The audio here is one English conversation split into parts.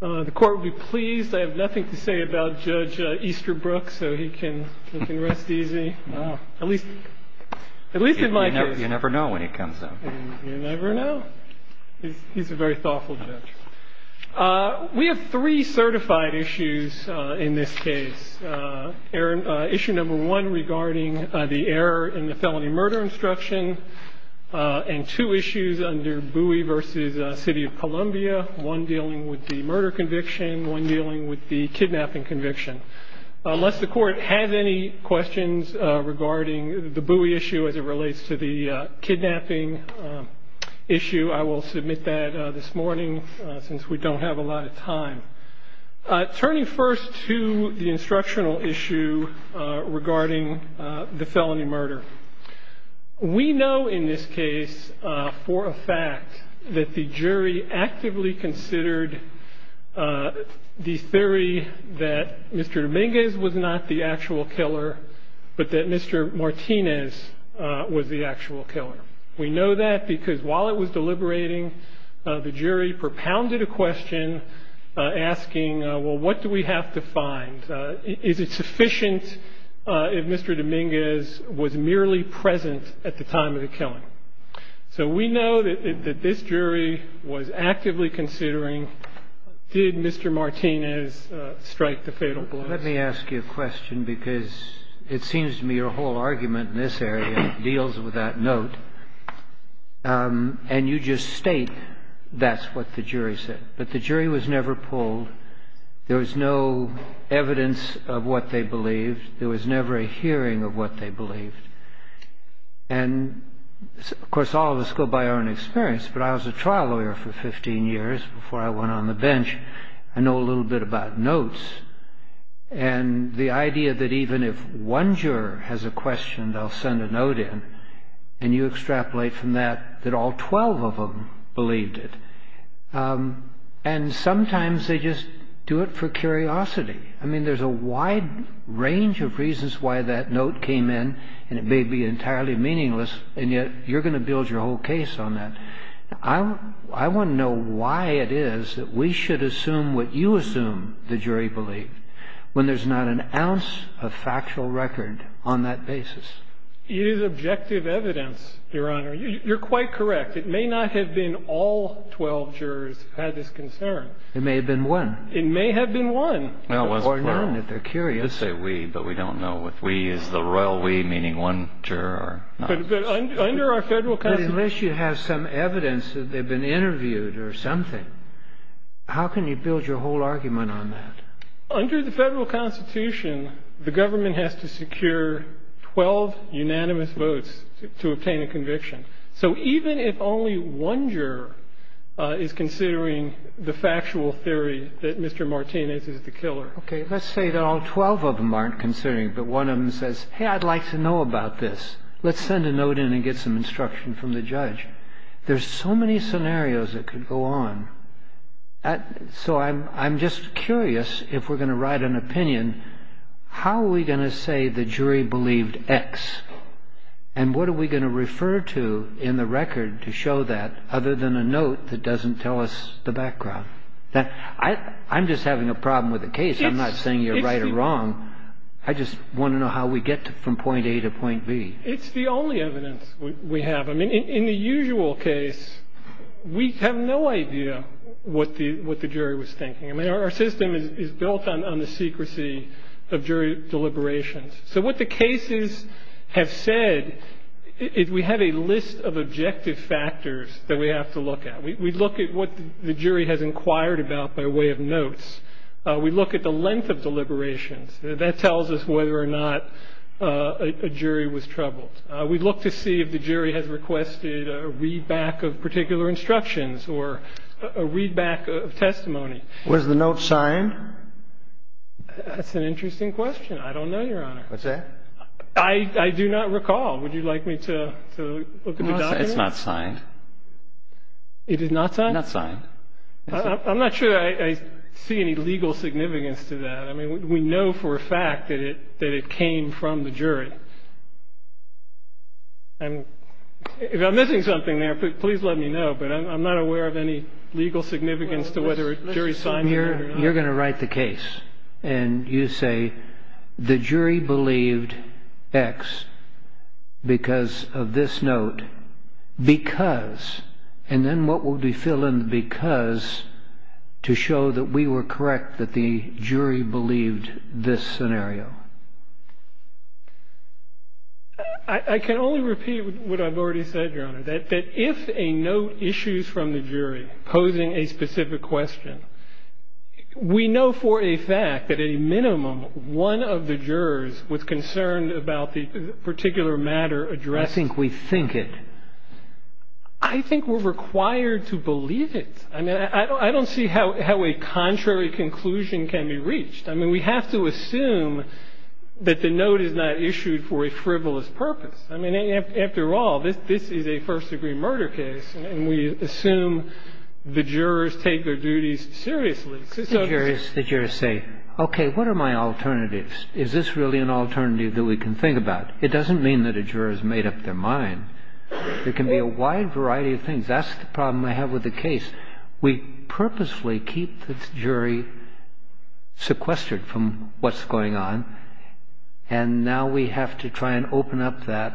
The court will be pleased. I have nothing to say about Judge Easterbrook, so he can rest easy. At least in my case. You never know when he comes up. You never know. He's a very thoughtful judge. We have three certified issues in this case. Issue number one regarding the error in the felony murder instruction, and two issues under Bowie v. City of Columbia, one dealing with the murder conviction, one dealing with the kidnapping conviction. Unless the court has any questions regarding the Bowie issue as it relates to the kidnapping issue, I will submit that this morning since we don't have a lot of time. Turning first to the instructional issue regarding the felony murder. We know in this case for a fact that the jury actively considered the theory that Mr. Dominguez was not the actual killer, but that Mr. Martinez was the actual killer. We know that because while it was deliberating, the jury propounded a question asking, well, what do we have to find? Is it sufficient if Mr. Dominguez was merely present at the time of the killing? So we know that this jury was actively considering, did Mr. Martinez strike the fatal blow? Let me ask you a question, because it seems to me your whole argument in this area deals with that note. And you just state that's what the jury said. But the jury was never pulled. There was no evidence of what they believed. There was never a hearing of what they believed. And, of course, all of us go by our own experience. But I was a trial lawyer for 15 years before I went on the bench. I know a little bit about notes. And the idea that even if one juror has a question, they'll send a note in, and you extrapolate from that that all 12 of them believed it. And sometimes they just do it for curiosity. I mean, there's a wide range of reasons why that note came in, and it may be entirely meaningless, and yet you're going to build your whole case on that. I want to know why it is that we should assume what you assume the jury believed when there's not an ounce of factual record on that basis. It is objective evidence, Your Honor. You're quite correct. It may not have been all 12 jurors who had this concern. It may have been one. It may have been one. Or none, if they're curious. They say we, but we don't know if we is the royal we, meaning one juror or not. But under our federal constitution. But unless you have some evidence that they've been interviewed or something, how can you build your whole argument on that? Under the federal constitution, the government has to secure 12 unanimous votes to obtain a conviction. So even if only one juror is considering the factual theory that Mr. Martinez is the killer. Okay. Let's say that all 12 of them aren't considering it, but one of them says, hey, I'd like to know about this. Let's send a note in and get some instruction from the judge. There's so many scenarios that could go on. So I'm just curious if we're going to write an opinion, how are we going to say the jury believed X? And what are we going to refer to in the record to show that other than a note that doesn't tell us the background? I'm just having a problem with the case. I'm not saying you're right or wrong. I just want to know how we get from point A to point B. It's the only evidence we have. I mean, in the usual case, we have no idea what the jury was thinking. I mean, our system is built on the secrecy of jury deliberations. So what the cases have said is we have a list of objective factors that we have to look at. We look at what the jury has inquired about by way of notes. We look at the length of deliberations. That tells us whether or not a jury was troubled. We look to see if the jury has requested a readback of particular instructions or a readback of testimony. Was the note signed? That's an interesting question. I don't know, Your Honor. I do not recall. Would you like me to look at the document? It's not signed. It is not signed? Not signed. I'm not sure I see any legal significance to that. I mean, we know for a fact that it came from the jury. And if I'm missing something there, please let me know. But I'm not aware of any legal significance to whether a jury signed it or not. You're going to write the case, and you say the jury believed X because of this note because, and then what would we fill in the because to show that we were correct, that the jury believed this scenario? I can only repeat what I've already said, Your Honor, that if a note issues from the jury posing a specific question, we know for a fact that a minimum one of the jurors was concerned about the particular matter addressing. I think we think it. I think we're required to believe it. I mean, I don't see how a contrary conclusion can be reached. I mean, we have to assume that the note is not issued for a frivolous purpose. I mean, after all, this is a first-degree murder case, and we assume the jurors take their duties seriously. The jurors say, okay, what are my alternatives? Is this really an alternative that we can think about? It doesn't mean that a juror has made up their mind. There can be a wide variety of things. That's the problem I have with the case. We purposely keep the jury sequestered from what's going on, and now we have to try and open up that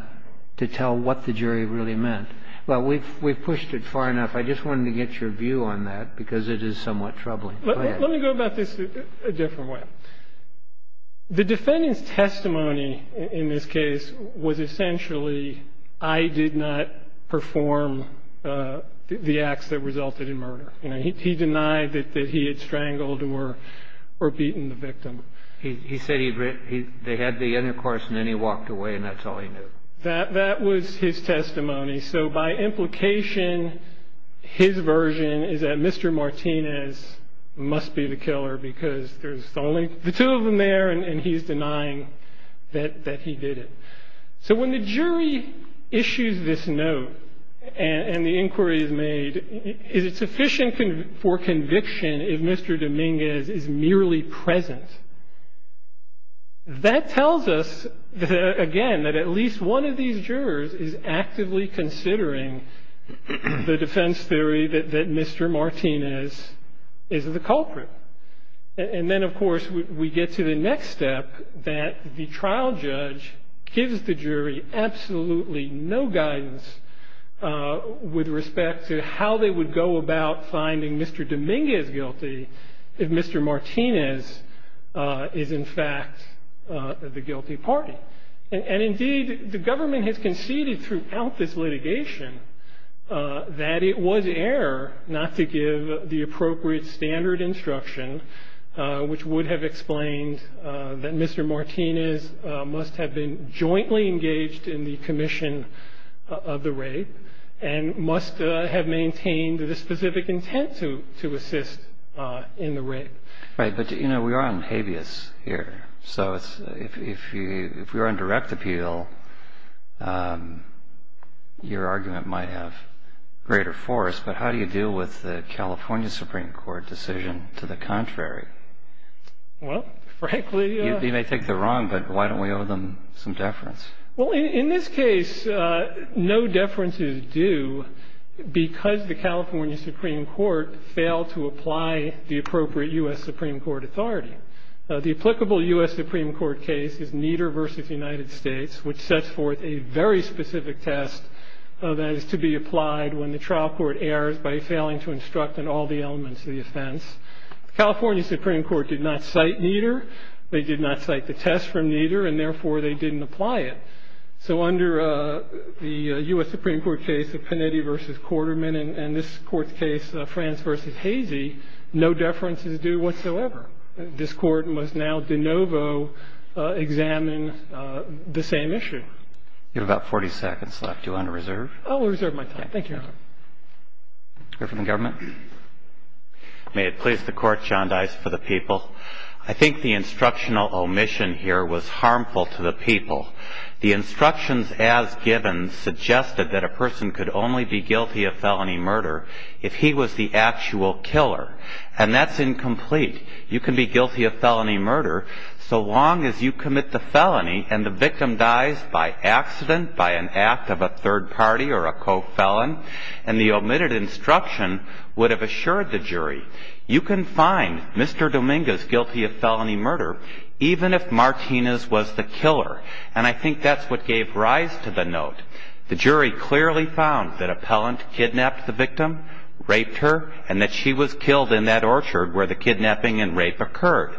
to tell what the jury really meant. Well, we've pushed it far enough. I just wanted to get your view on that because it is somewhat troubling. Go ahead. Let me go about this a different way. The defendant's testimony in this case was essentially I did not perform the acts that resulted in murder. He denied that he had strangled or beaten the victim. He said they had the intercourse and then he walked away, and that's all he knew. That was his testimony. So by implication, his version is that Mr. Martinez must be the killer because there's only the two of them there and he's denying that he did it. So when the jury issues this note and the inquiry is made, is it sufficient for conviction if Mr. Dominguez is merely present? That tells us, again, that at least one of these jurors is actively considering the defense theory that Mr. Martinez is the culprit. And then, of course, we get to the next step that the trial judge gives the jury absolutely no guidance with respect to how they would go about finding Mr. Dominguez guilty if Mr. Martinez is, in fact, the guilty party. And, indeed, the government has conceded throughout this litigation that it was error not to give the appropriate standard instruction, which would have explained that Mr. Martinez must have been jointly engaged in the commission of the rape and must have maintained the specific intent to assist in the rape. Right. But, you know, we are on habeas here. So if you're on direct appeal, your argument might have greater force. But how do you deal with the California Supreme Court decision to the contrary? Well, frankly – You may think they're wrong, but why don't we owe them some deference? Well, in this case, no deference is due because the California Supreme Court failed to apply the appropriate U.S. Supreme Court authority. The applicable U.S. Supreme Court case is Nieder v. United States, which sets forth a very specific test that is to be applied when the trial court errs by failing to instruct on all the elements of the offense. The California Supreme Court did not cite Nieder. They did not cite the test from Nieder, and therefore they didn't apply it. So under the U.S. Supreme Court case of Panetti v. Quarterman and this Court's case, Franz v. Hazy, no deference is due whatsoever. This Court must now de novo examine the same issue. You have about 40 seconds left. Do you want to reserve? I will reserve my time. Thank you, Your Honor. Go to the government. May it please the Court, John Dice for the people. I think the instructional omission here was harmful to the people. The instructions as given suggested that a person could only be guilty of felony murder if he was the actual killer, and that's incomplete. You can be guilty of felony murder so long as you commit the felony and the victim dies by accident, by an act of a third party or a co-felon, and the omitted instruction would have assured the jury. You can find Mr. Dominguez guilty of felony murder even if Martinez was the killer, and I think that's what gave rise to the note. The jury clearly found that Appellant kidnapped the victim, raped her, and that she was killed in that orchard where the kidnapping and rape occurred.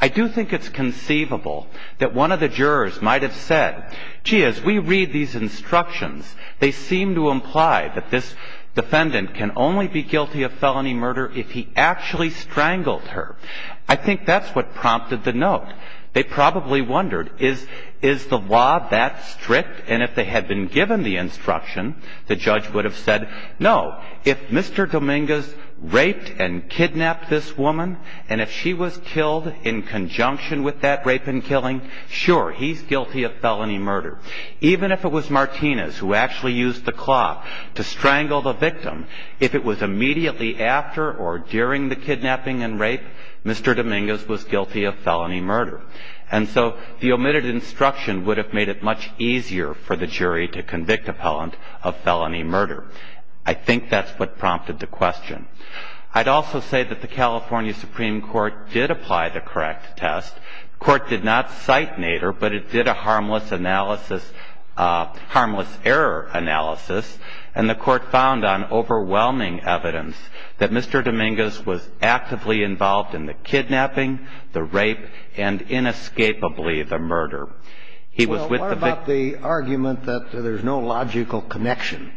I do think it's conceivable that one of the jurors might have said, Gee, as we read these instructions, they seem to imply that this defendant can only be guilty of felony murder if he actually strangled her. I think that's what prompted the note. They probably wondered, is the law that strict? And if they had been given the instruction, the judge would have said, no, if Mr. Dominguez raped and kidnapped this woman and if she was killed in conjunction with that rape and killing, sure, he's guilty of felony murder. Even if it was Martinez who actually used the cloth to strangle the victim, if it was immediately after or during the kidnapping and rape, Mr. Dominguez was guilty of felony murder. And so the omitted instruction would have made it much easier for the jury to convict Appellant of felony murder. I think that's what prompted the question. I'd also say that the California Supreme Court did apply the correct test. The court did not cite Nader, but it did a harmless analysis, harmless error analysis, and the court found on overwhelming evidence that Mr. Dominguez was actively involved in the kidnapping, the rape, and inescapably the murder. He was with the victim. Well, what about the argument that there's no logical connection?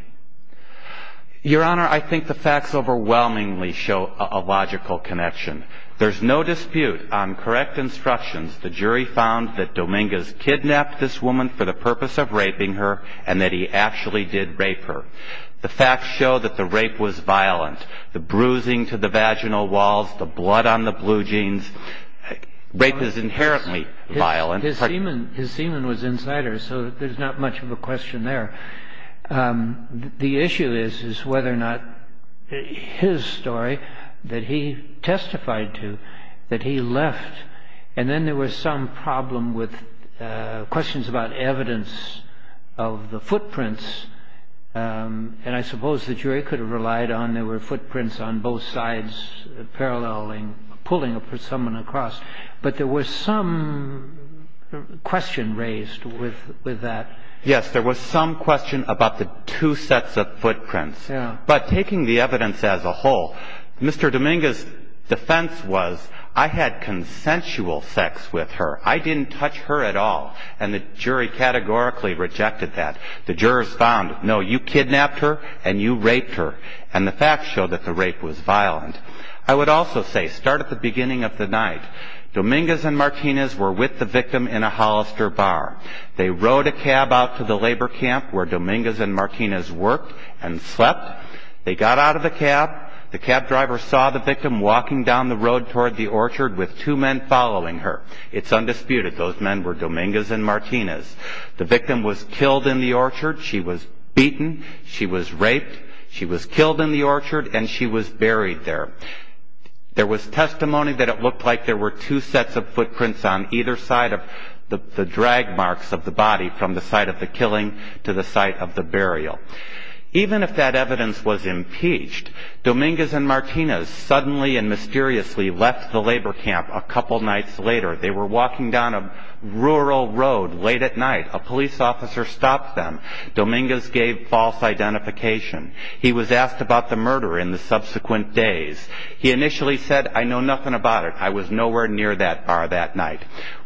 Your Honor, I think the facts overwhelmingly show a logical connection. There's no dispute on correct instructions. The jury found that Dominguez kidnapped this woman for the purpose of raping her and that he actually did rape her. The facts show that the rape was violent, the bruising to the vaginal walls, the blood on the blue jeans. Rape is inherently violent. His semen was inside her, so there's not much of a question there. The issue is whether or not his story that he testified to, that he left, and then there was some problem with questions about evidence of the footprints, and I suppose the jury could have relied on there were footprints on both sides paralleling, pulling someone across. But there was some question raised with that. Yes, there was some question about the two sets of footprints. But taking the evidence as a whole, Mr. Dominguez's defense was, I had consensual sex with her, I didn't touch her at all, and the jury categorically rejected that. The jurors found, no, you kidnapped her and you raped her, and the facts showed that the rape was violent. I would also say, start at the beginning of the night. Dominguez and Martinez were with the victim in a Hollister bar. They rode a cab out to the labor camp where Dominguez and Martinez worked and slept. They got out of the cab. The cab driver saw the victim walking down the road toward the orchard with two men following her. It's undisputed. Those men were Dominguez and Martinez. The victim was killed in the orchard. She was beaten. She was raped. She was killed in the orchard, and she was buried there. There was testimony that it looked like there were two sets of footprints on either side of the drag marks of the body, from the site of the killing to the site of the burial. Even if that evidence was impeached, Dominguez and Martinez suddenly and mysteriously left the labor camp a couple nights later. They were walking down a rural road late at night. A police officer stopped them. Dominguez gave false identification. He was asked about the murder in the subsequent days. He initially said, I know nothing about it. I was nowhere near that bar that night.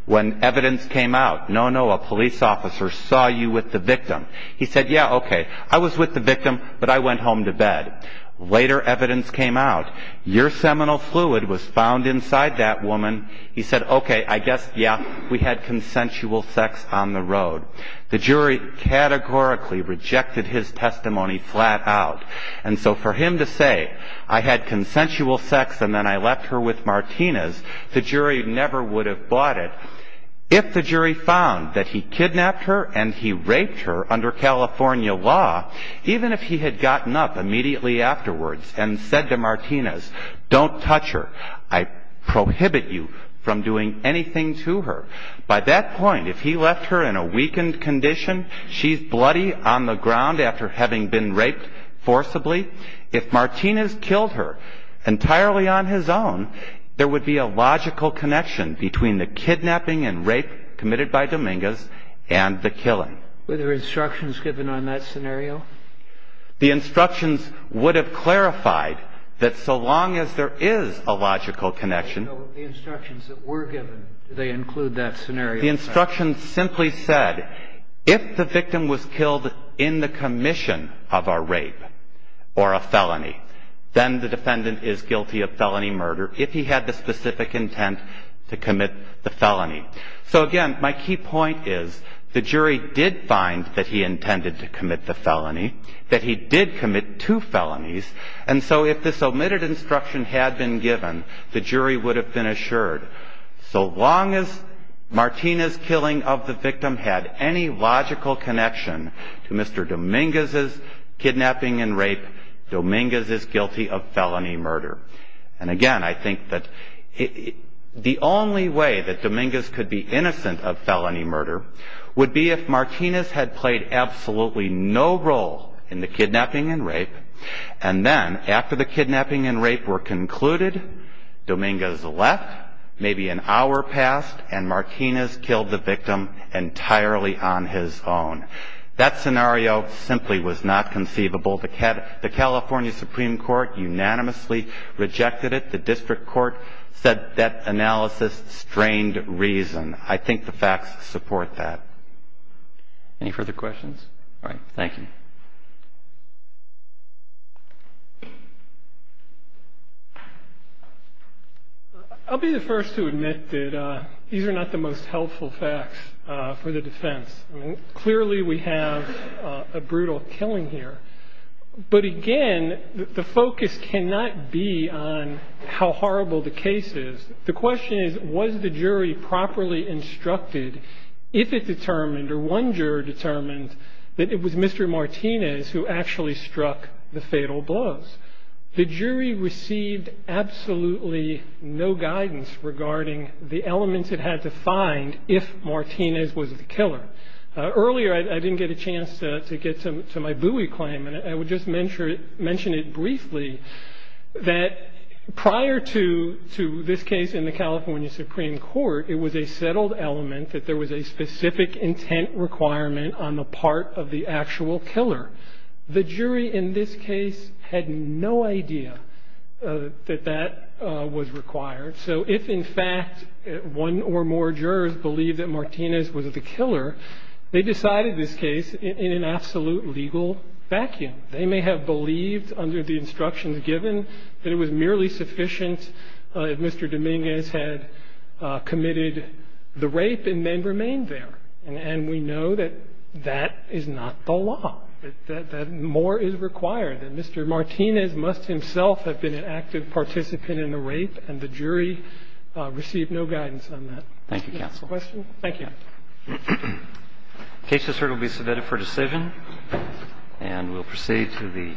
When evidence came out, no, no, a police officer saw you with the victim. He said, yeah, okay, I was with the victim, but I went home to bed. Later evidence came out. Your seminal fluid was found inside that woman. He said, okay, I guess, yeah, we had consensual sex on the road. The jury categorically rejected his testimony flat out. And so for him to say, I had consensual sex and then I left her with Martinez, the jury never would have bought it. If the jury found that he kidnapped her and he raped her under California law, even if he had gotten up immediately afterwards and said to Martinez, don't touch her, I prohibit you from doing anything to her, by that point, if he left her in a weakened condition, she's bloody on the ground after having been raped forcibly. If Martinez killed her entirely on his own, there would be a logical connection between the kidnapping and rape committed by Dominguez and the killing. Were there instructions given on that scenario? The instructions would have clarified that so long as there is a logical connection. So the instructions that were given, do they include that scenario? The instructions simply said, if the victim was killed in the commission of a rape or a felony, then the defendant is guilty of felony murder if he had the specific intent to commit the felony. So, again, my key point is the jury did find that he intended to commit the felony, that he did commit two felonies. And so if this omitted instruction had been given, the jury would have been assured, so long as Martinez's killing of the victim had any logical connection to Mr. Dominguez's kidnapping and rape, Dominguez is guilty of felony murder. And, again, I think that the only way that Dominguez could be innocent of felony murder would be if Martinez had played absolutely no role in the kidnapping and rape and then after the kidnapping and rape were concluded, Dominguez left, maybe an hour passed, and Martinez killed the victim entirely on his own. That scenario simply was not conceivable. The California Supreme Court unanimously rejected it. The district court said that analysis strained reason. I think the facts support that. Any further questions? All right. Thank you. I'll be the first to admit that these are not the most helpful facts for the defense. Clearly, we have a brutal killing here. But, again, the focus cannot be on how horrible the case is. The question is, was the jury properly instructed, if it determined or one juror determined that it was Mr. Martinez who actually struck the fatal blows? The jury received absolutely no guidance regarding the elements it had to find if Martinez was the killer. Earlier, I didn't get a chance to get to my Bowie claim, and I would just mention it briefly, that prior to this case in the California Supreme Court, it was a settled element that there was a specific intent requirement on the part of the actual killer. The jury in this case had no idea that that was required. So if, in fact, one or more jurors believed that Martinez was the killer, they decided this case in an absolute legal vacuum. They may have believed, under the instructions given, that it was merely sufficient if Mr. Dominguez had committed the rape and then remained there. And we know that that is not the law, that more is required. And Mr. Martinez must himself have been an active participant in the rape, and the jury received no guidance on that. Thank you, counsel. Thank you. Thank you, Your Honor. The case this Court will be submitted for decision. And we'll proceed to the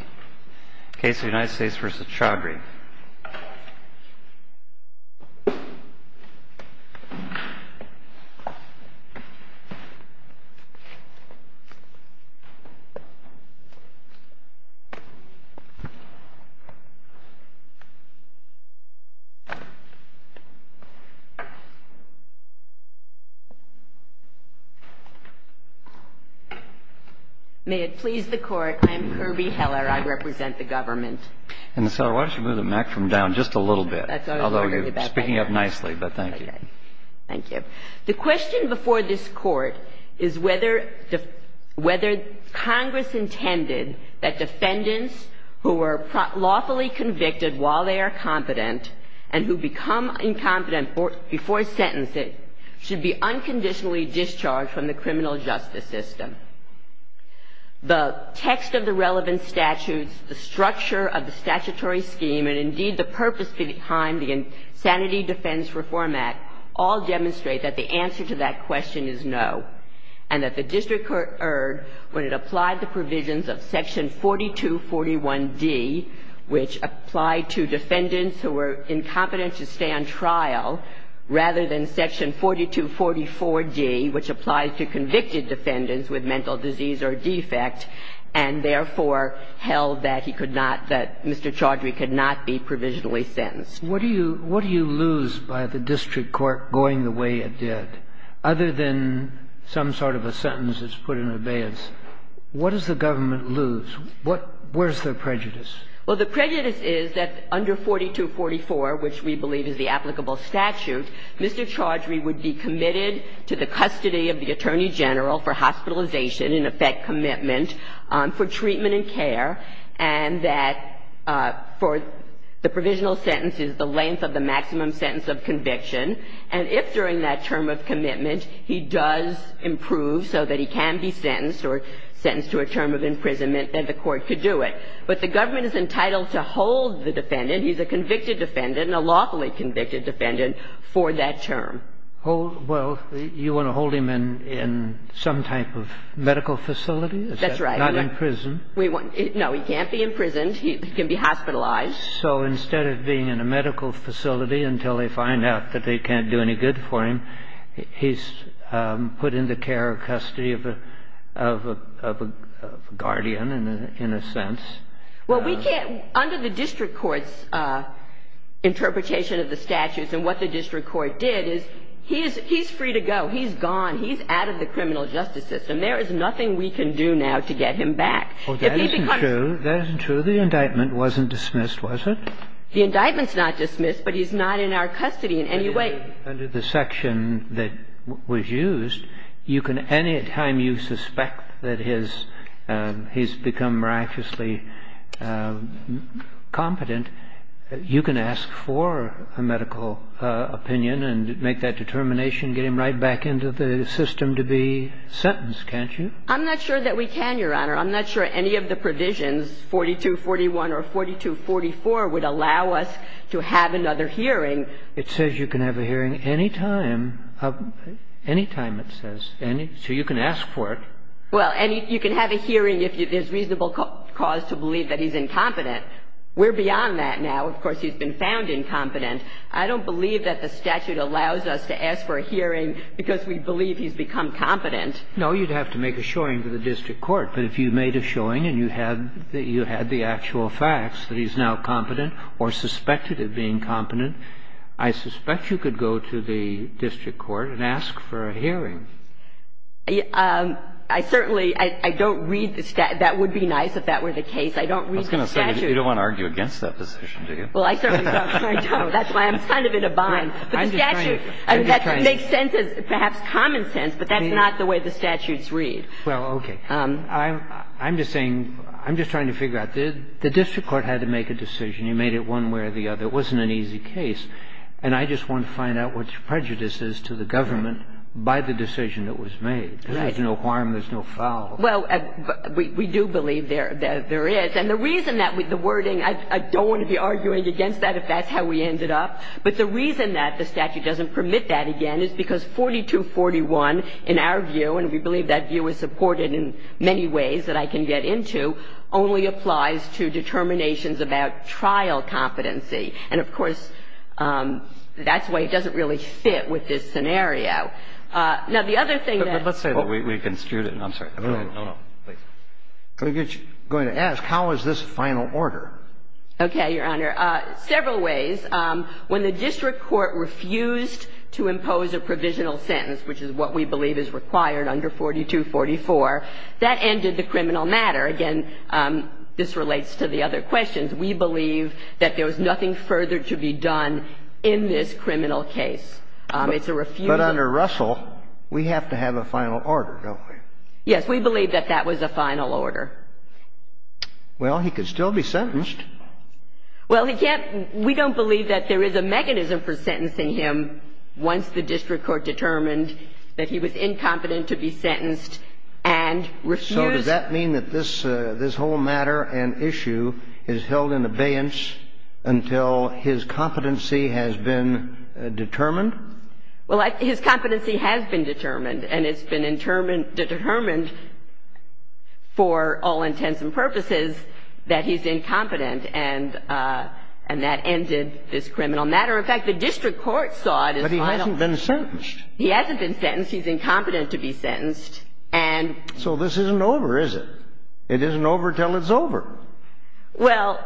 case of United States v. Chaudhary. May it please the Court, I am Kirby Heller. I represent the government. And, Ms. Heller, why don't you move the microphone down just a little bit. Although you're speaking up nicely, but thank you. Okay. Thank you. The question before this Court is whether Congress intended that defendants who were lawfully convicted while they are competent and who become incompetent before sentencing should be unconditionally discharged from the criminal justice system. The text of the relevant statutes, the structure of the statutory scheme, and indeed the purpose behind the Sanity Defense Reform Act all demonstrate that the answer to that question is no. And that the district heard when it applied the provisions of Section 4241D, which applied to defendants who were incompetent to stay on trial, rather than Section 4244D, which applied to convicted defendants with mental disease or defect, and therefore held that he could not, that Mr. Chaudhary could not be provisionally sentenced. What do you lose by the district court going the way it did, other than some sort of a sentence that's put in abeyance? What does the government lose? Where's the prejudice? Well, the prejudice is that under 4244, which we believe is the applicable statute, Mr. Chaudhary would be committed to the custody of the Attorney General for hospitalization, in effect commitment, for treatment and care, and that for the provisional sentence is the length of the maximum sentence of conviction. And if during that term of commitment he does improve so that he can be sentenced or sentenced to a term of imprisonment, then the court could do it. But the government is entitled to hold the defendant. He's a convicted defendant, a lawfully convicted defendant, for that term. Well, you want to hold him in some type of medical facility? That's right. Not in prison. No, he can't be imprisoned. He can be hospitalized. So instead of being in a medical facility until they find out that they can't do any good for him, he's put in the care or custody of a guardian in a sense. Well, we can't under the district court's interpretation of the statutes and what the district court did is he's free to go. He's gone. He's out of the criminal justice system. There is nothing we can do now to get him back. Oh, that isn't true. That isn't true. The indictment wasn't dismissed, was it? The indictment's not dismissed, but he's not in our custody in any way. Under the section that was used, you can any time you suspect that he's become miraculously competent, you can ask for a medical opinion and make that determination, get him right back into the system to be sentenced, can't you? I'm not sure that we can, Your Honor. I'm not sure any of the provisions, 4241 or 4244, would allow us to have another hearing. It says you can have a hearing any time, any time it says. So you can ask for it. Well, and you can have a hearing if there's reasonable cause to believe that he's incompetent. We're beyond that now. Of course, he's been found incompetent. I don't believe that the statute allows us to ask for a hearing because we believe he's become competent. No, you'd have to make a showing to the district court. But if you made a showing and you had the actual facts that he's now competent or suspected of being competent, I suspect you could go to the district court and ask for a hearing. I certainly don't read the statute. That would be nice if that were the case. I don't read the statute. I was going to say, you don't want to argue against that position, do you? Well, I certainly don't. I don't. That's why I'm kind of in a bind. But the statute makes sense, perhaps common sense, but that's not the way the statutes read. Well, okay. I'm just saying, I'm just trying to figure out. The district court had to make a decision. You made it one way or the other. It wasn't an easy case. And I just want to find out what your prejudice is to the government by the decision that was made. Right. Because there's no harm, there's no foul. Well, we do believe there is. And the reason that the wording, I don't want to be arguing against that if that's how we ended up. But the reason that the statute doesn't permit that again is because 4241, in our view, and we believe that view is supported in many ways that I can get into, only applies to determinations about trial competency. And, of course, that's why it doesn't really fit with this scenario. Now, the other thing that we're going to ask, how is this final order? Okay, Your Honor. Several ways. When the district court refused to impose a provisional sentence, which is what we believe is required under 4244, that ended the criminal matter. Again, this relates to the other questions. We believe that there was nothing further to be done in this criminal case. It's a refusal. But under Russell, we have to have a final order, don't we? Yes. We believe that that was a final order. Well, he could still be sentenced. Well, he can't. We don't believe that there is a mechanism for sentencing him once the district court determined that he was incompetent to be sentenced and refused. So does that mean that this whole matter and issue is held in abeyance until his competency has been determined? Well, his competency has been determined, and it's been determined for all intents and purposes that he's incompetent, and that ended this criminal matter. In fact, the district court saw it as final. But he hasn't been sentenced. He's incompetent to be sentenced. So this isn't over, is it? It isn't over until it's over. Well,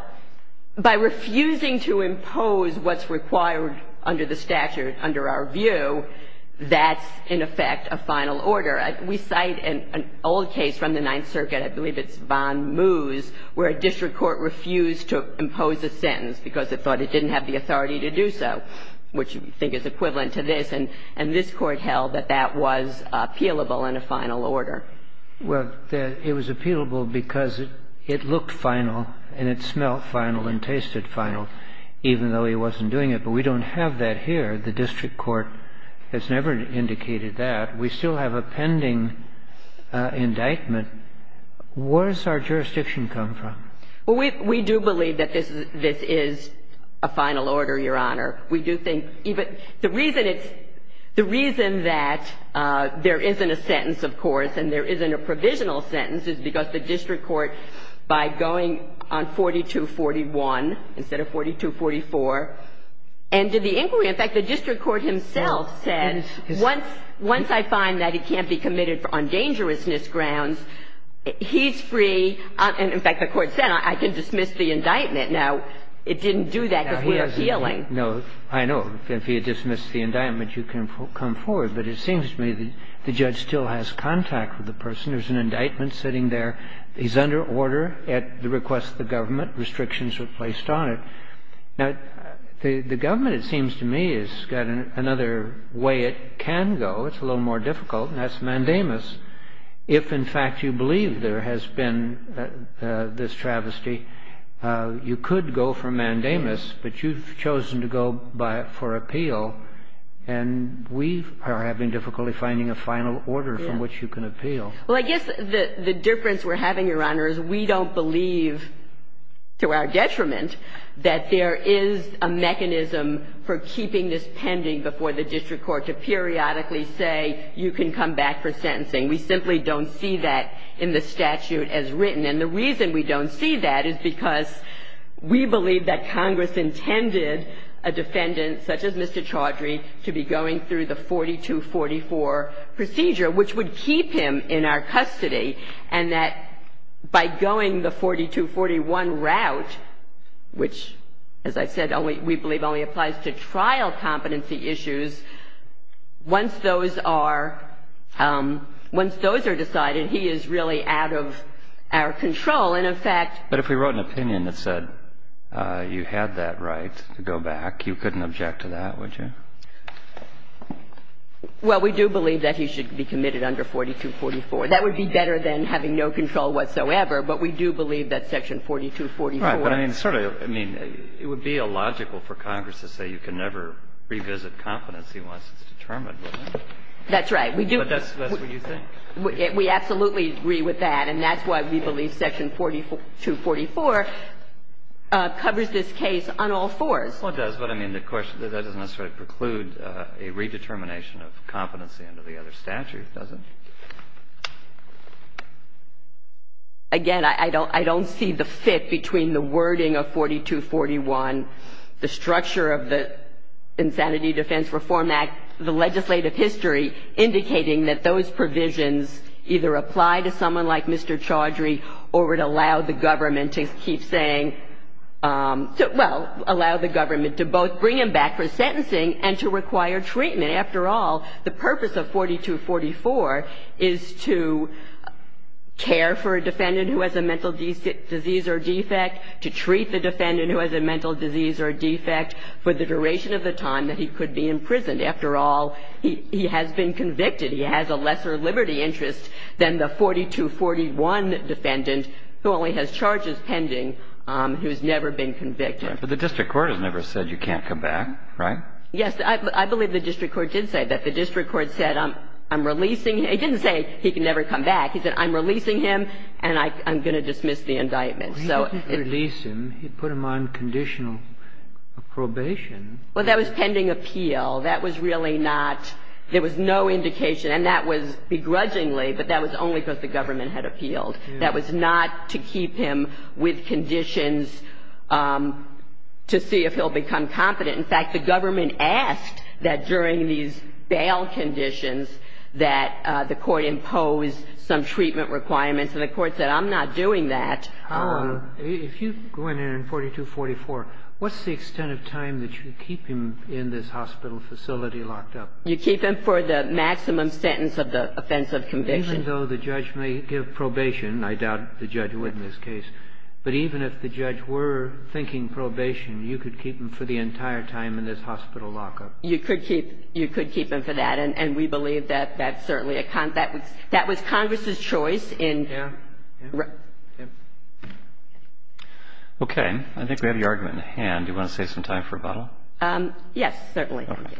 by refusing to impose what's required under the statute, under our view, that's in effect a final order. We cite an old case from the Ninth Circuit. I believe it's von Moos, where a district court refused to impose a sentence because it thought it didn't have the authority to do so, which we think is equivalent to this. And this Court held that that was appealable in a final order. Well, it was appealable because it looked final and it smelled final and tasted final, even though he wasn't doing it. But we don't have that here. The district court has never indicated that. We still have a pending indictment. Where does our jurisdiction come from? Well, we do believe that this is a final order, Your Honor. We do think even the reason it's the reason that there isn't a sentence, of course, and there isn't a provisional sentence is because the district court, by going on 42-41 instead of 42-44, and did the inquiry. In fact, the district court himself said, once I find that he can't be committed on dangerousness grounds, he's free. And in fact, the court said, I can dismiss the indictment. Now, it didn't do that because we're appealing. No, I know. If he had dismissed the indictment, you can come forward. But it seems to me the judge still has contact with the person. There's an indictment sitting there. He's under order at the request of the government. Restrictions were placed on it. Now, the government, it seems to me, has got another way it can go. It's a little more difficult, and that's mandamus. If, in fact, you believe there has been this travesty, you could go for mandamus, but you've chosen to go for appeal, and we are having difficulty finding a final order from which you can appeal. Well, I guess the difference we're having, Your Honor, is we don't believe, to our detriment, that there is a mechanism for keeping this pending before the district court to periodically say you can come back for sentencing. We simply don't see that in the statute as written. And the reason we don't see that is because we believe that Congress intended a defendant such as Mr. Chaudhry to be going through the 4244 procedure, which would keep him in our custody, and that by going the 4241 route, which, as I said, we believe only applies to trial competency issues, once those are decided, he is really out of our control. And, in fact – But if we wrote an opinion that said you had that right to go back, you couldn't object to that, would you? Well, we do believe that he should be committed under 4244. That would be better than having no control whatsoever, but we do believe that section 4244 – Right. But I mean, sort of, I mean, it would be illogical for Congress to say you can never revisit competency once it's determined, wouldn't it? That's right. We do – But that's what you think. We absolutely agree with that, and that's why we believe section 4244 covers this case on all fours. Well, it does, but I mean, that doesn't necessarily preclude a redetermination of competency under the other statute, does it? Again, I don't see the fit between the wording of 4241, the structure of the Insanity Defense Reform Act, the legislative history, indicating that those provisions either apply to someone like Mr. Chaudhry or would allow the government to keep saying – well, allow the government to both bring him back for sentencing and to require treatment. After all, the purpose of 4244 is to care for a defendant who has a mental disease or defect, to treat the defendant who has a mental disease or defect for the purpose of a sentence, to be able to be imprisoned. After all, he has been convicted. He has a lesser liberty interest than the 4241 defendant who only has charges pending who has never been convicted. Right. But the district court has never said you can't come back, right? Yes. I believe the district court did say that. The district court said, I'm releasing him. It didn't say he can never come back. He said, I'm releasing him and I'm going to dismiss the indictment. So it's – And the government did not appeal. That was really not – there was no indication, and that was begrudgingly, but that was only because the government had appealed. That was not to keep him with conditions to see if he'll become competent. In fact, the government asked that during these bail conditions that the court impose some treatment requirements, and the court said, I'm not doing that. If you go in there in 4244, what's the extent of time that you keep him in this hospital facility locked up? You keep him for the maximum sentence of the offense of conviction. Even though the judge may give probation. I doubt the judge would in this case. But even if the judge were thinking probation, you could keep him for the entire time in this hospital lockup. You could keep him for that, and we believe that that's certainly a – that was Congress's choice in – Yeah. Right. Okay. I think we have the argument in hand. Do you want to save some time for rebuttal? Yes, certainly. Okay.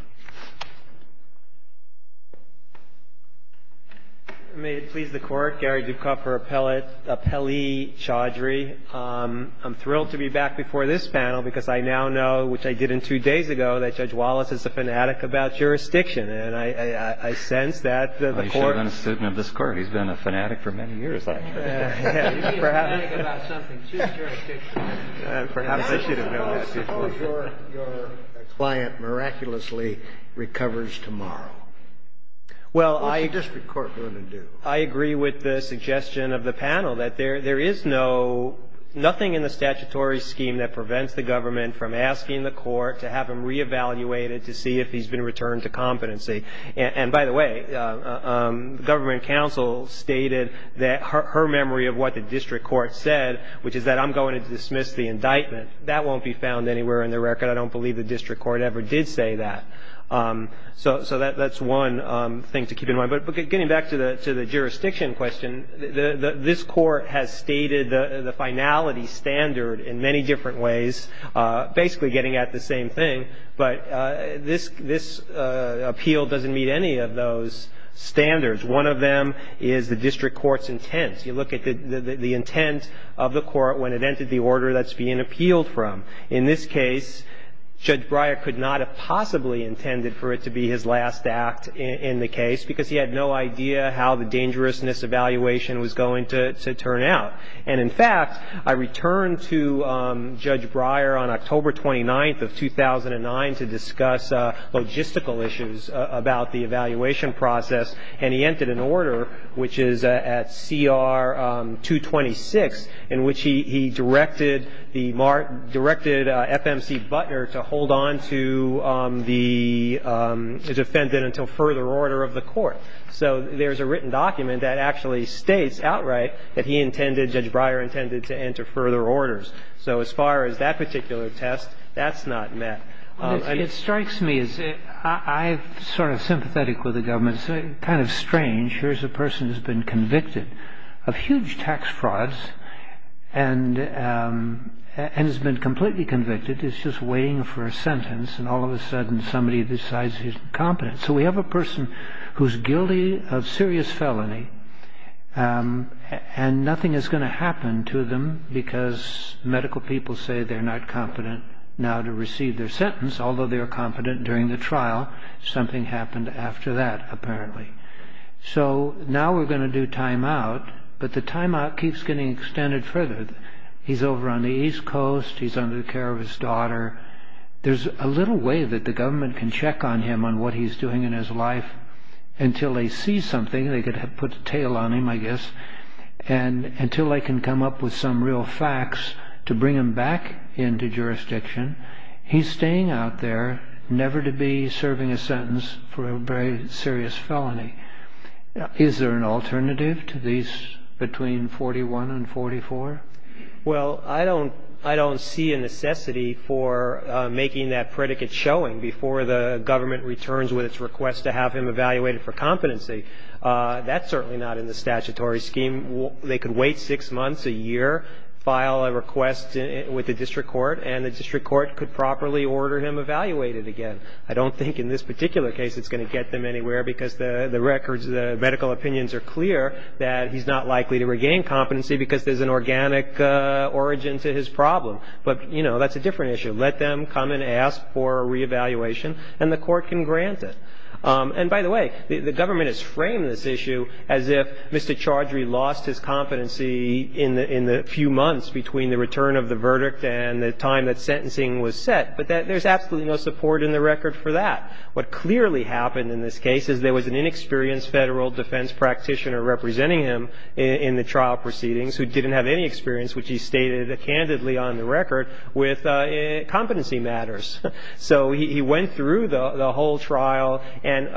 May it please the Court. Gary Dukoff for Appellee Chaudhry. I'm thrilled to be back before this panel because I now know, which I did in two days ago, that Judge Wallace is a fanatic about jurisdiction. And I sense that the Court – You should be a fanatic about something. She's jurisdiction. Perhaps I should have known that before. How is it that your client miraculously recovers tomorrow? Well, I – Which the District Court wouldn't do. I agree with the suggestion of the panel that there is no – nothing in the statutory scheme that prevents the government from asking the Court to have him reevaluated to see if he's been returned to competency. And, by the way, the Government Counsel stated that her memory of what the District Court said, which is that I'm going to dismiss the indictment, that won't be found anywhere in the record. I don't believe the District Court ever did say that. So that's one thing to keep in mind. But getting back to the jurisdiction question, this Court has stated the finality standard in many different ways, basically getting at the same thing. But this – this appeal doesn't meet any of those standards. One of them is the District Court's intent. You look at the intent of the Court when it entered the order that's being appealed from. In this case, Judge Breyer could not have possibly intended for it to be his last act in the case because he had no idea how the dangerousness evaluation was going to turn out. And, in fact, I returned to Judge Breyer on October 29th of 2009 to discuss logistical issues about the evaluation process. And he entered an order, which is at CR 226, in which he directed the – directed FMC Butner to hold on to the – to defend it until further order of the Court. So there's a written document that actually states outright that he intended to hold on to it until further order of the Court. And Judge Breyer intended to enter further orders. So as far as that particular test, that's not met. I mean, it strikes me as – I'm sort of sympathetic with the government. It's kind of strange. Here's a person who's been convicted of huge tax frauds and has been completely convicted. He's just waiting for a sentence, and all of a sudden somebody decides he's incompetent. So we have a person who's guilty of serious felony, and nothing is going to happen to them because medical people say they're not competent now to receive their sentence, although they were competent during the trial. Something happened after that, apparently. So now we're going to do timeout, but the timeout keeps getting extended further. He's over on the East Coast. He's under the care of his daughter. There's a little way that the government can check on him on what he's doing in his life. Until they see something, they could have put a tail on him, I guess. And until they can come up with some real facts to bring him back into jurisdiction, he's staying out there, never to be serving a sentence for a very serious felony. Is there an alternative to these between 41 and 44? Well, I don't see a necessity for making that predicate showing before the government returns with its request to have him evaluated for competency. That's certainly not in the statutory scheme. They could wait six months, a year, file a request with the district court, and the district court could properly order him evaluated again. I don't think in this particular case it's going to get them anywhere, because the records, the medical opinions are clear that he's not likely to regain competency because there's an organic origin to his problem. But, you know, that's a different issue. Let them come and ask for a reevaluation, and the court can grant it. And by the way, the government has framed this issue as if Mr. Chaudhry lost his competency in the few months between the return of the verdict and the time that sentencing was set. But there's absolutely no support in the record for that. What clearly happened in this case is there was an inexperienced federal defense practitioner representing him in the trial proceedings who didn't have any experience, which he stated candidly on the record, with competency matters. So he went through the whole trial. And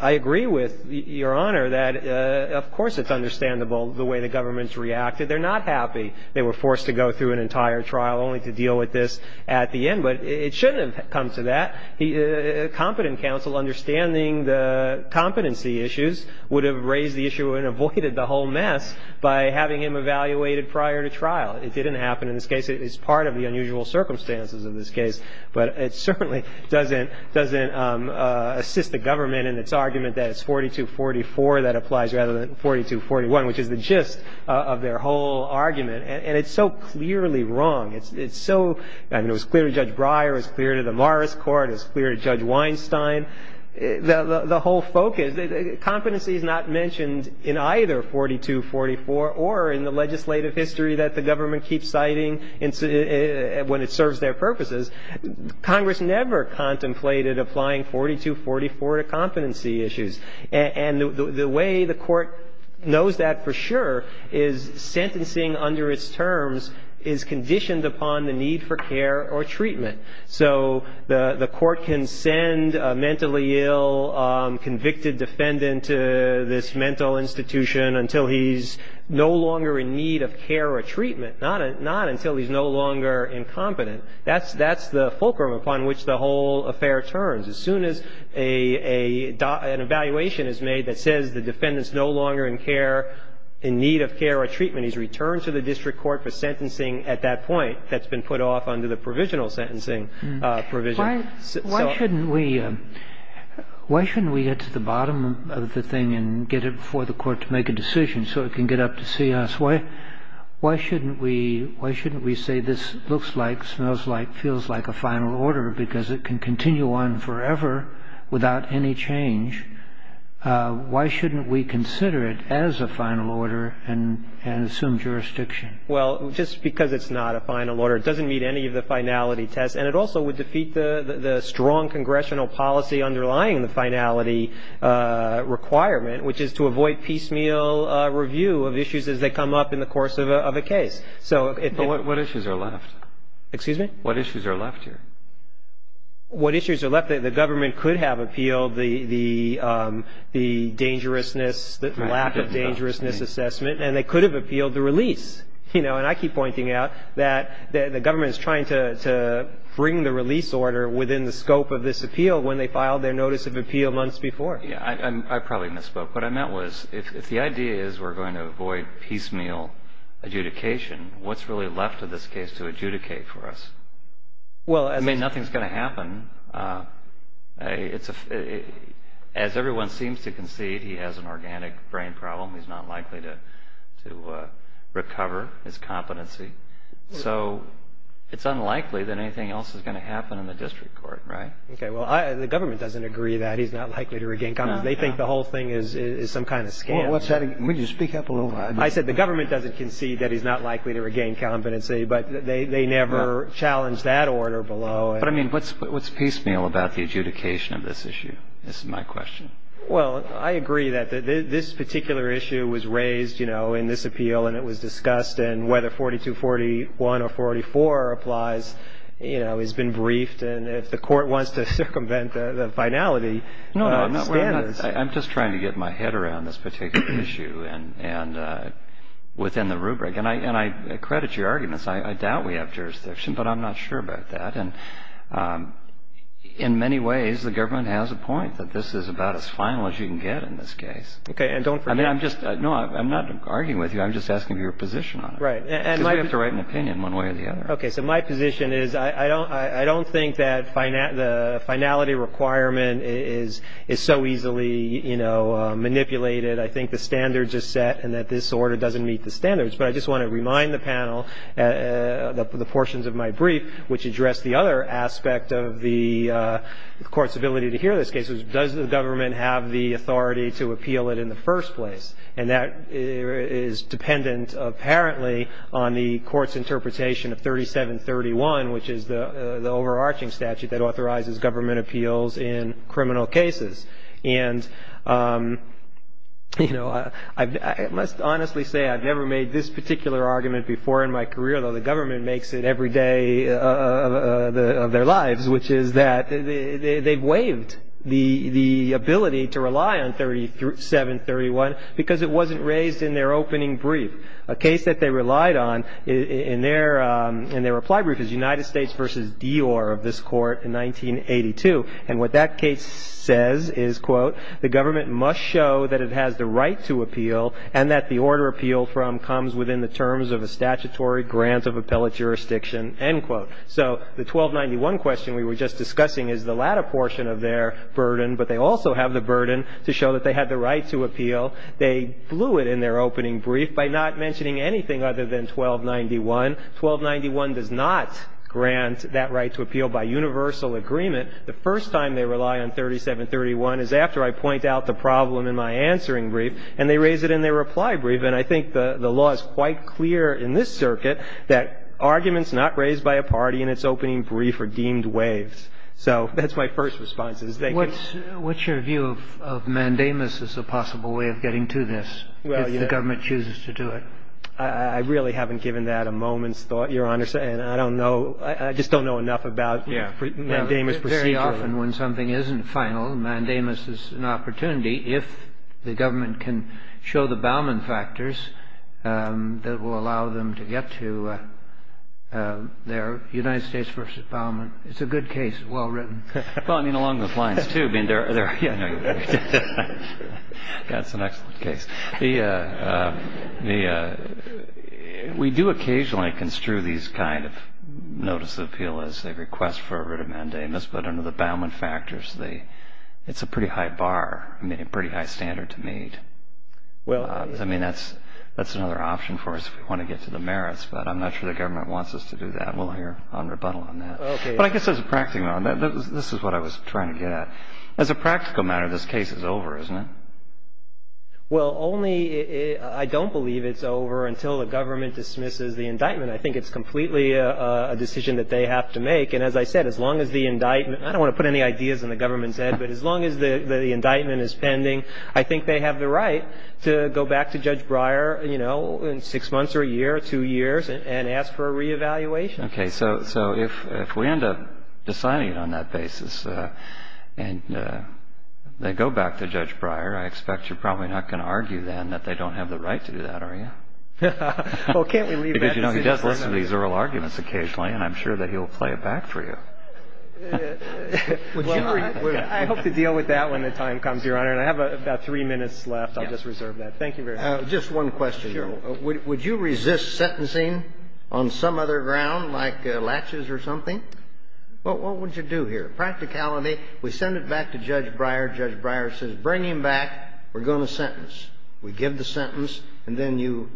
I agree with Your Honor that, of course, it's understandable the way the government's reacted. They're not happy they were forced to go through an entire trial only to deal with this at the end. But it shouldn't have come to that. A competent counsel understanding the competency issues would have raised the issue and avoided the whole mess by having him evaluated prior to trial. It didn't happen in this case. It's part of the unusual circumstances of this case. But it certainly doesn't assist the government in its argument that it's 42-44 that applies rather than 42-41, which is the gist of their whole argument. And it's so clearly wrong. I mean, it was clear to Judge Breyer. It was clear to the Morris Court. It was clear to Judge Weinstein. The whole focus, competency is not mentioned in either 42-44 or in the legislative history that the government keeps citing when it serves their purposes. Congress never contemplated applying 42-44 to competency issues. And the way the court knows that for sure is sentencing under its terms is conditioned upon the need for care or treatment. So the court can send a mentally ill convicted defendant to this mental institution until he's no longer in need of care or treatment, not until he's no longer incompetent. That's the fulcrum upon which the whole affair turns. As soon as an evaluation is made that says the defendant's no longer in care, in need of care or treatment, he's returned to the district court for sentencing at that point that's been put off under the provisional sentencing provision. So why shouldn't we get to the bottom of the thing and get it before the court to make a decision so it can get up to see us? Why shouldn't we say this looks like, smells like, feels like a final order because it can continue on forever without any change? Why shouldn't we consider it as a final order and assume jurisdiction? Well, just because it's not a final order, it doesn't meet any of the finality tests. And it also would defeat the strong congressional policy underlying the finality requirement, which is to avoid piecemeal review of issues as they come up in the course of a case. But what issues are left? Excuse me? What issues are left here? What issues are left? The government could have appealed the dangerousness, the lack of dangerousness assessment, and they could have appealed the release. And I keep pointing out that the government is trying to bring the release order within the scope of this appeal when they filed their notice of appeal months before. Yeah, I probably misspoke. What I meant was if the idea is we're going to avoid piecemeal adjudication, what's really left of this case to adjudicate for us? I mean, nothing's going to happen. As everyone seems to concede, he has an organic brain problem. He's not likely to recover his competency. So it's unlikely that anything else is going to happen in the district court, right? Okay, well, the government doesn't agree that he's not likely to regain competency. They think the whole thing is some kind of scam. Well, what's that? Would you speak up a little? I said the government doesn't concede that he's not likely to regain competency, but they never challenged that order below. But, I mean, what's piecemeal about the adjudication of this issue? This is my question. Well, I agree that this particular issue was raised, you know, in this appeal, and it was discussed, and whether 4241 or 44 applies, you know, has been briefed. And if the court wants to circumvent the finality of standards. No, no, I'm just trying to get my head around this particular issue and within the rubric. And I credit your arguments. I doubt we have jurisdiction, but I'm not sure about that. And in many ways, the government has a point that this is about as final as you can get in this case. Okay, and don't forget. No, I'm not arguing with you. I'm just asking for your position on it. Right. Because we have to write an opinion one way or the other. Okay, so my position is I don't think that the finality requirement is so easily, you know, manipulated. I think the standards are set and that this order doesn't meet the standards. But I just want to remind the panel, the portions of my brief, which address the other aspect of the court's ability to hear this case, which is does the government have the authority to appeal it in the first place. And that is dependent apparently on the court's interpretation of 3731, which is the overarching statute that authorizes government appeals in criminal cases. And, you know, I must honestly say I've never made this particular argument before in my career, though the government makes it every day of their lives, which is that they've waived the ability to rely on 3731 because it wasn't raised in their opening brief. A case that they relied on in their reply brief is United States v. Dior of this court in 1982. And what that case says is, quote, the government must show that it has the right to appeal and that the order appealed from comes within the terms of a statutory grant of appellate jurisdiction, end quote. So the 1291 question we were just discussing is the latter portion of their burden, but they also have the burden to show that they had the right to appeal. They blew it in their opening brief by not mentioning anything other than 1291. 1291 does not grant that right to appeal by universal agreement. The first time they rely on 3731 is after I point out the problem in my answering brief, and they raise it in their reply brief. And I think the law is quite clear in this circuit that arguments not raised by a party in its opening brief are deemed waived. So that's my first response. Thank you. What's your view of mandamus as a possible way of getting to this if the government chooses to do it? I really haven't given that a moment's thought, Your Honor, and I don't know. I just don't know enough about mandamus procedurally. Often when something isn't final, mandamus is an opportunity if the government can show the Bauman factors that will allow them to get to their United States versus Bauman. It's a good case. It's well written. Well, I mean, along those lines, too. That's an excellent case. We do occasionally construe these kind of notice of appeal as a request for a writ of mandamus, but under the Bauman factors, it's a pretty high bar, I mean, a pretty high standard to meet. I mean, that's another option for us if we want to get to the merits, but I'm not sure the government wants us to do that. We'll hear a rebuttal on that. Okay. But I guess as a practical matter, this is what I was trying to get at. As a practical matter, this case is over, isn't it? Well, only I don't believe it's over until the government dismisses the indictment. I think it's completely a decision that they have to make. And as I said, as long as the indictment, I don't want to put any ideas in the government's head, but as long as the indictment is pending, I think they have the right to go back to Judge Breyer, you know, in six months or a year, two years, and ask for a reevaluation. Okay. So if we end up deciding on that basis and they go back to Judge Breyer, I expect you're probably not going to argue then that they don't have the right to do that, are you? Well, can't we leave that decision to them? and he's made a number of arguments occasionally and I'm sure that he'll play it back for you. I hope to deal with that when the time comes, Your Honor. And I have about three minutes left. Yes. I'll just reserve that. Thank you very much. Just one question. Sure. Would you resist sentencing on some other ground like laches or something? What would you do here? Practicality. We send it back to Judge Breyer. Judge Breyer says, Bring him back. We're going to sentence. We give the sentence, and then you...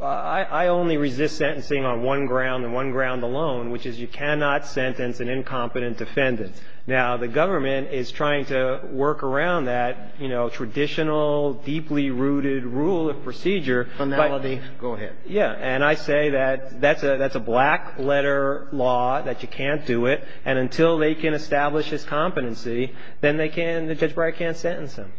I only resist sentencing on one ground and one ground alone, which is you cannot sentence an incompetent defendant. Now, the government is trying to work around that, you know, traditional, deeply rooted rule of procedure. Finality. Go ahead. Yeah. And I say that that's a black letter law, that you can't do it, and until they can establish his competency, then they can't, Judge Breyer can't sentence him.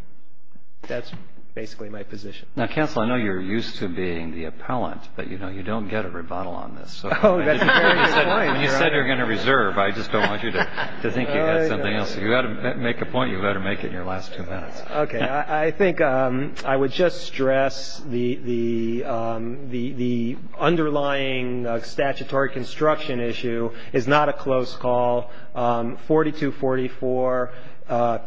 That's basically my position. Now, counsel, I know you're used to being the appellant, but, you know, you don't get a rebuttal on this. Oh, that's a very good point. You said you were going to reserve. I just don't want you to think you've got something else. If you've got to make a point, you've got to make it in your last two minutes. Okay. I think I would just stress the underlying statutory construction issue is not a close call. 4244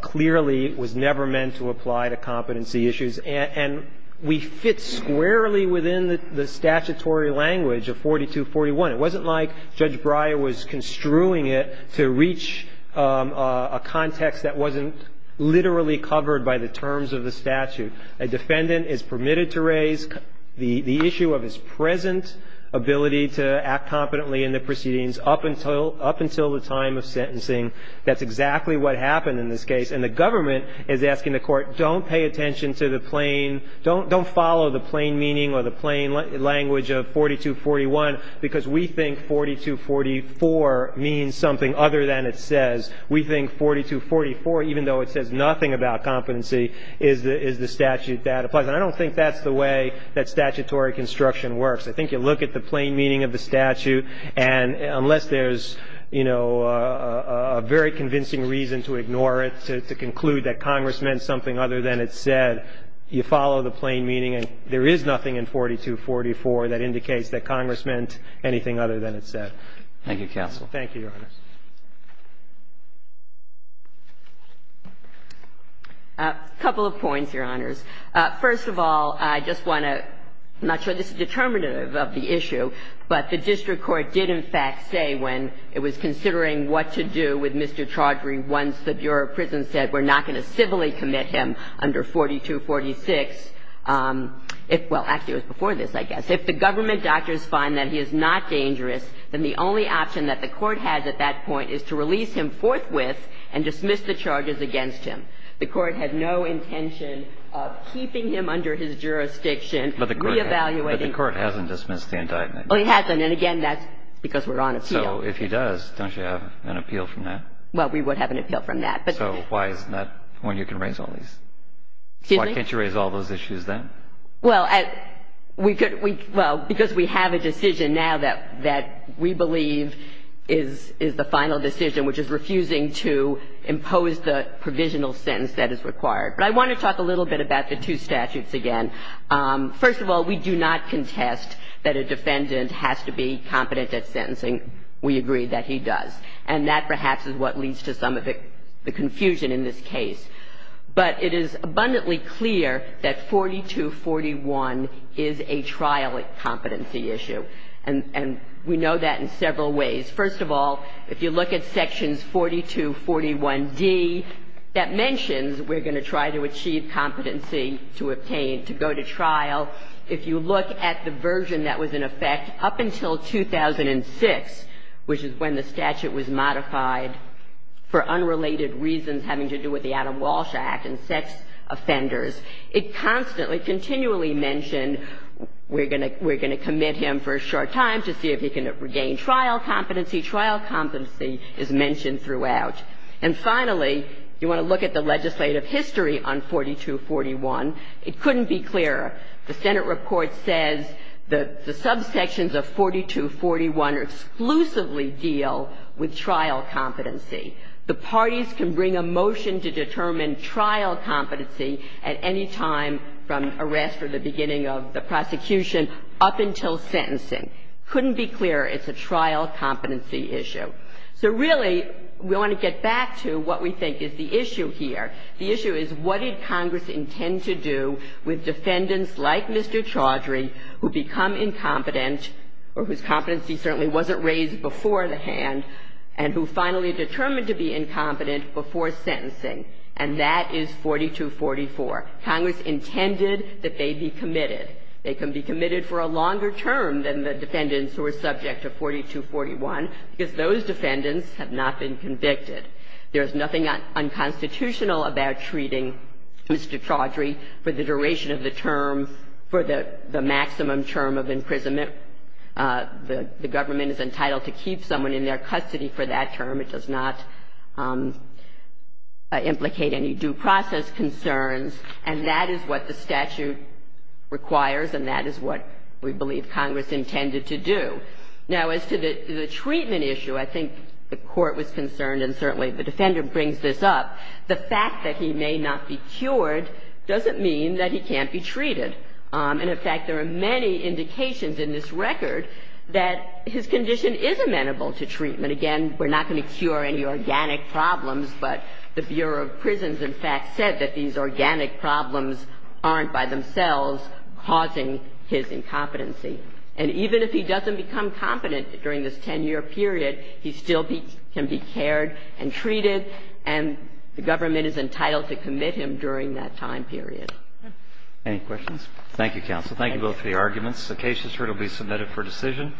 clearly was never meant to apply to competency issues, and we fit squarely within the statutory language of 4241. It wasn't like Judge Breyer was construing it to reach a context that wasn't literally covered by the terms of the statute. A defendant is permitted to raise the issue of his present ability to act competently in the proceedings up until the time of sentencing. That's exactly what happened in this case. And the government is asking the court, don't pay attention to the plain, don't follow the plain meaning or the plain language of 4241 because we think 4244 means something other than it says. We think 4244, even though it says nothing about competency, is the statute that applies. And I don't think that's the way that statutory construction works. I think you look at the plain meaning of the statute, and unless there's, you know, a very convincing reason to ignore it, to conclude that Congress meant something other than it said, you follow the plain meaning and there is nothing in 4244 that indicates that Congress meant anything other than it said. Thank you, counsel. Thank you, Your Honor. A couple of points, Your Honors. First of all, I just want to – I'm not sure this is determinative of the issue, but the district court did, in fact, say when it was considering what to do with Mr. Now, if you go back to 5246 – well, actually, it was before this, I guess. If the government doctors find that he is not dangerous, then the only option that the court has at that point is to release him forthwith and dismiss the charges against him. The court had no intention of keeping him under his jurisdiction, re-evaluating But the court hasn't dismissed the indictment. Oh, it hasn't. And, again, that's because we're on appeal. So if he does, don't you have an appeal from that? Well, we would have an appeal from that. So why is that when you can raise all these? Excuse me? Why can't you raise all those issues then? Well, we could – well, because we have a decision now that we believe is the final decision, which is refusing to impose the provisional sentence that is required. But I want to talk a little bit about the two statutes again. First of all, we do not contest that a defendant has to be competent at sentencing. We agree that he does. And that perhaps is what leads to some of the confusion in this case. But it is abundantly clear that 4241 is a trial competency issue. And we know that in several ways. First of all, if you look at sections 4241d, that mentions we're going to try to achieve competency to obtain, to go to trial. If you look at the version that was in effect up until 2006, which is when the statute was modified for unrelated reasons having to do with the Adam Walsh Act and sex offenders, it constantly, continually mentioned we're going to commit him for a short time to see if he can regain trial competency. Trial competency is mentioned throughout. And finally, you want to look at the legislative history on 4241. It couldn't be clearer. The Senate report says that the subsections of 4241 exclusively deal with trial competency. The parties can bring a motion to determine trial competency at any time from arrest or the beginning of the prosecution up until sentencing. Couldn't be clearer. It's a trial competency issue. So really, we want to get back to what we think is the issue here. The issue is what did Congress intend to do with defendants like Mr. Chaudhry who become incompetent or whose competency certainly wasn't raised before the hand and who finally determined to be incompetent before sentencing. And that is 4244. Congress intended that they be committed. They can be committed for a longer term than the defendants who are subject to 4241 because those defendants have not been convicted. There's nothing unconstitutional about treating Mr. Chaudhry for the duration of the term for the maximum term of imprisonment. The government is entitled to keep someone in their custody for that term. It does not implicate any due process concerns. And that is what the statute requires and that is what we believe Congress intended to do. Now, as to the treatment issue, I think the Court was concerned and certainly the Defender brings this up. The fact that he may not be cured doesn't mean that he can't be treated. And in fact, there are many indications in this record that his condition is amenable to treatment. Again, we're not going to cure any organic problems, but the Bureau of Prisons in fact said that these organic problems aren't by themselves causing his incompetency. And even if he doesn't become competent during this 10-year period, he still can be cared and treated, and the government is entitled to commit him during that time period. Any questions? Thank you, counsel. Thank you both for your arguments. The case is currently submitted for decision.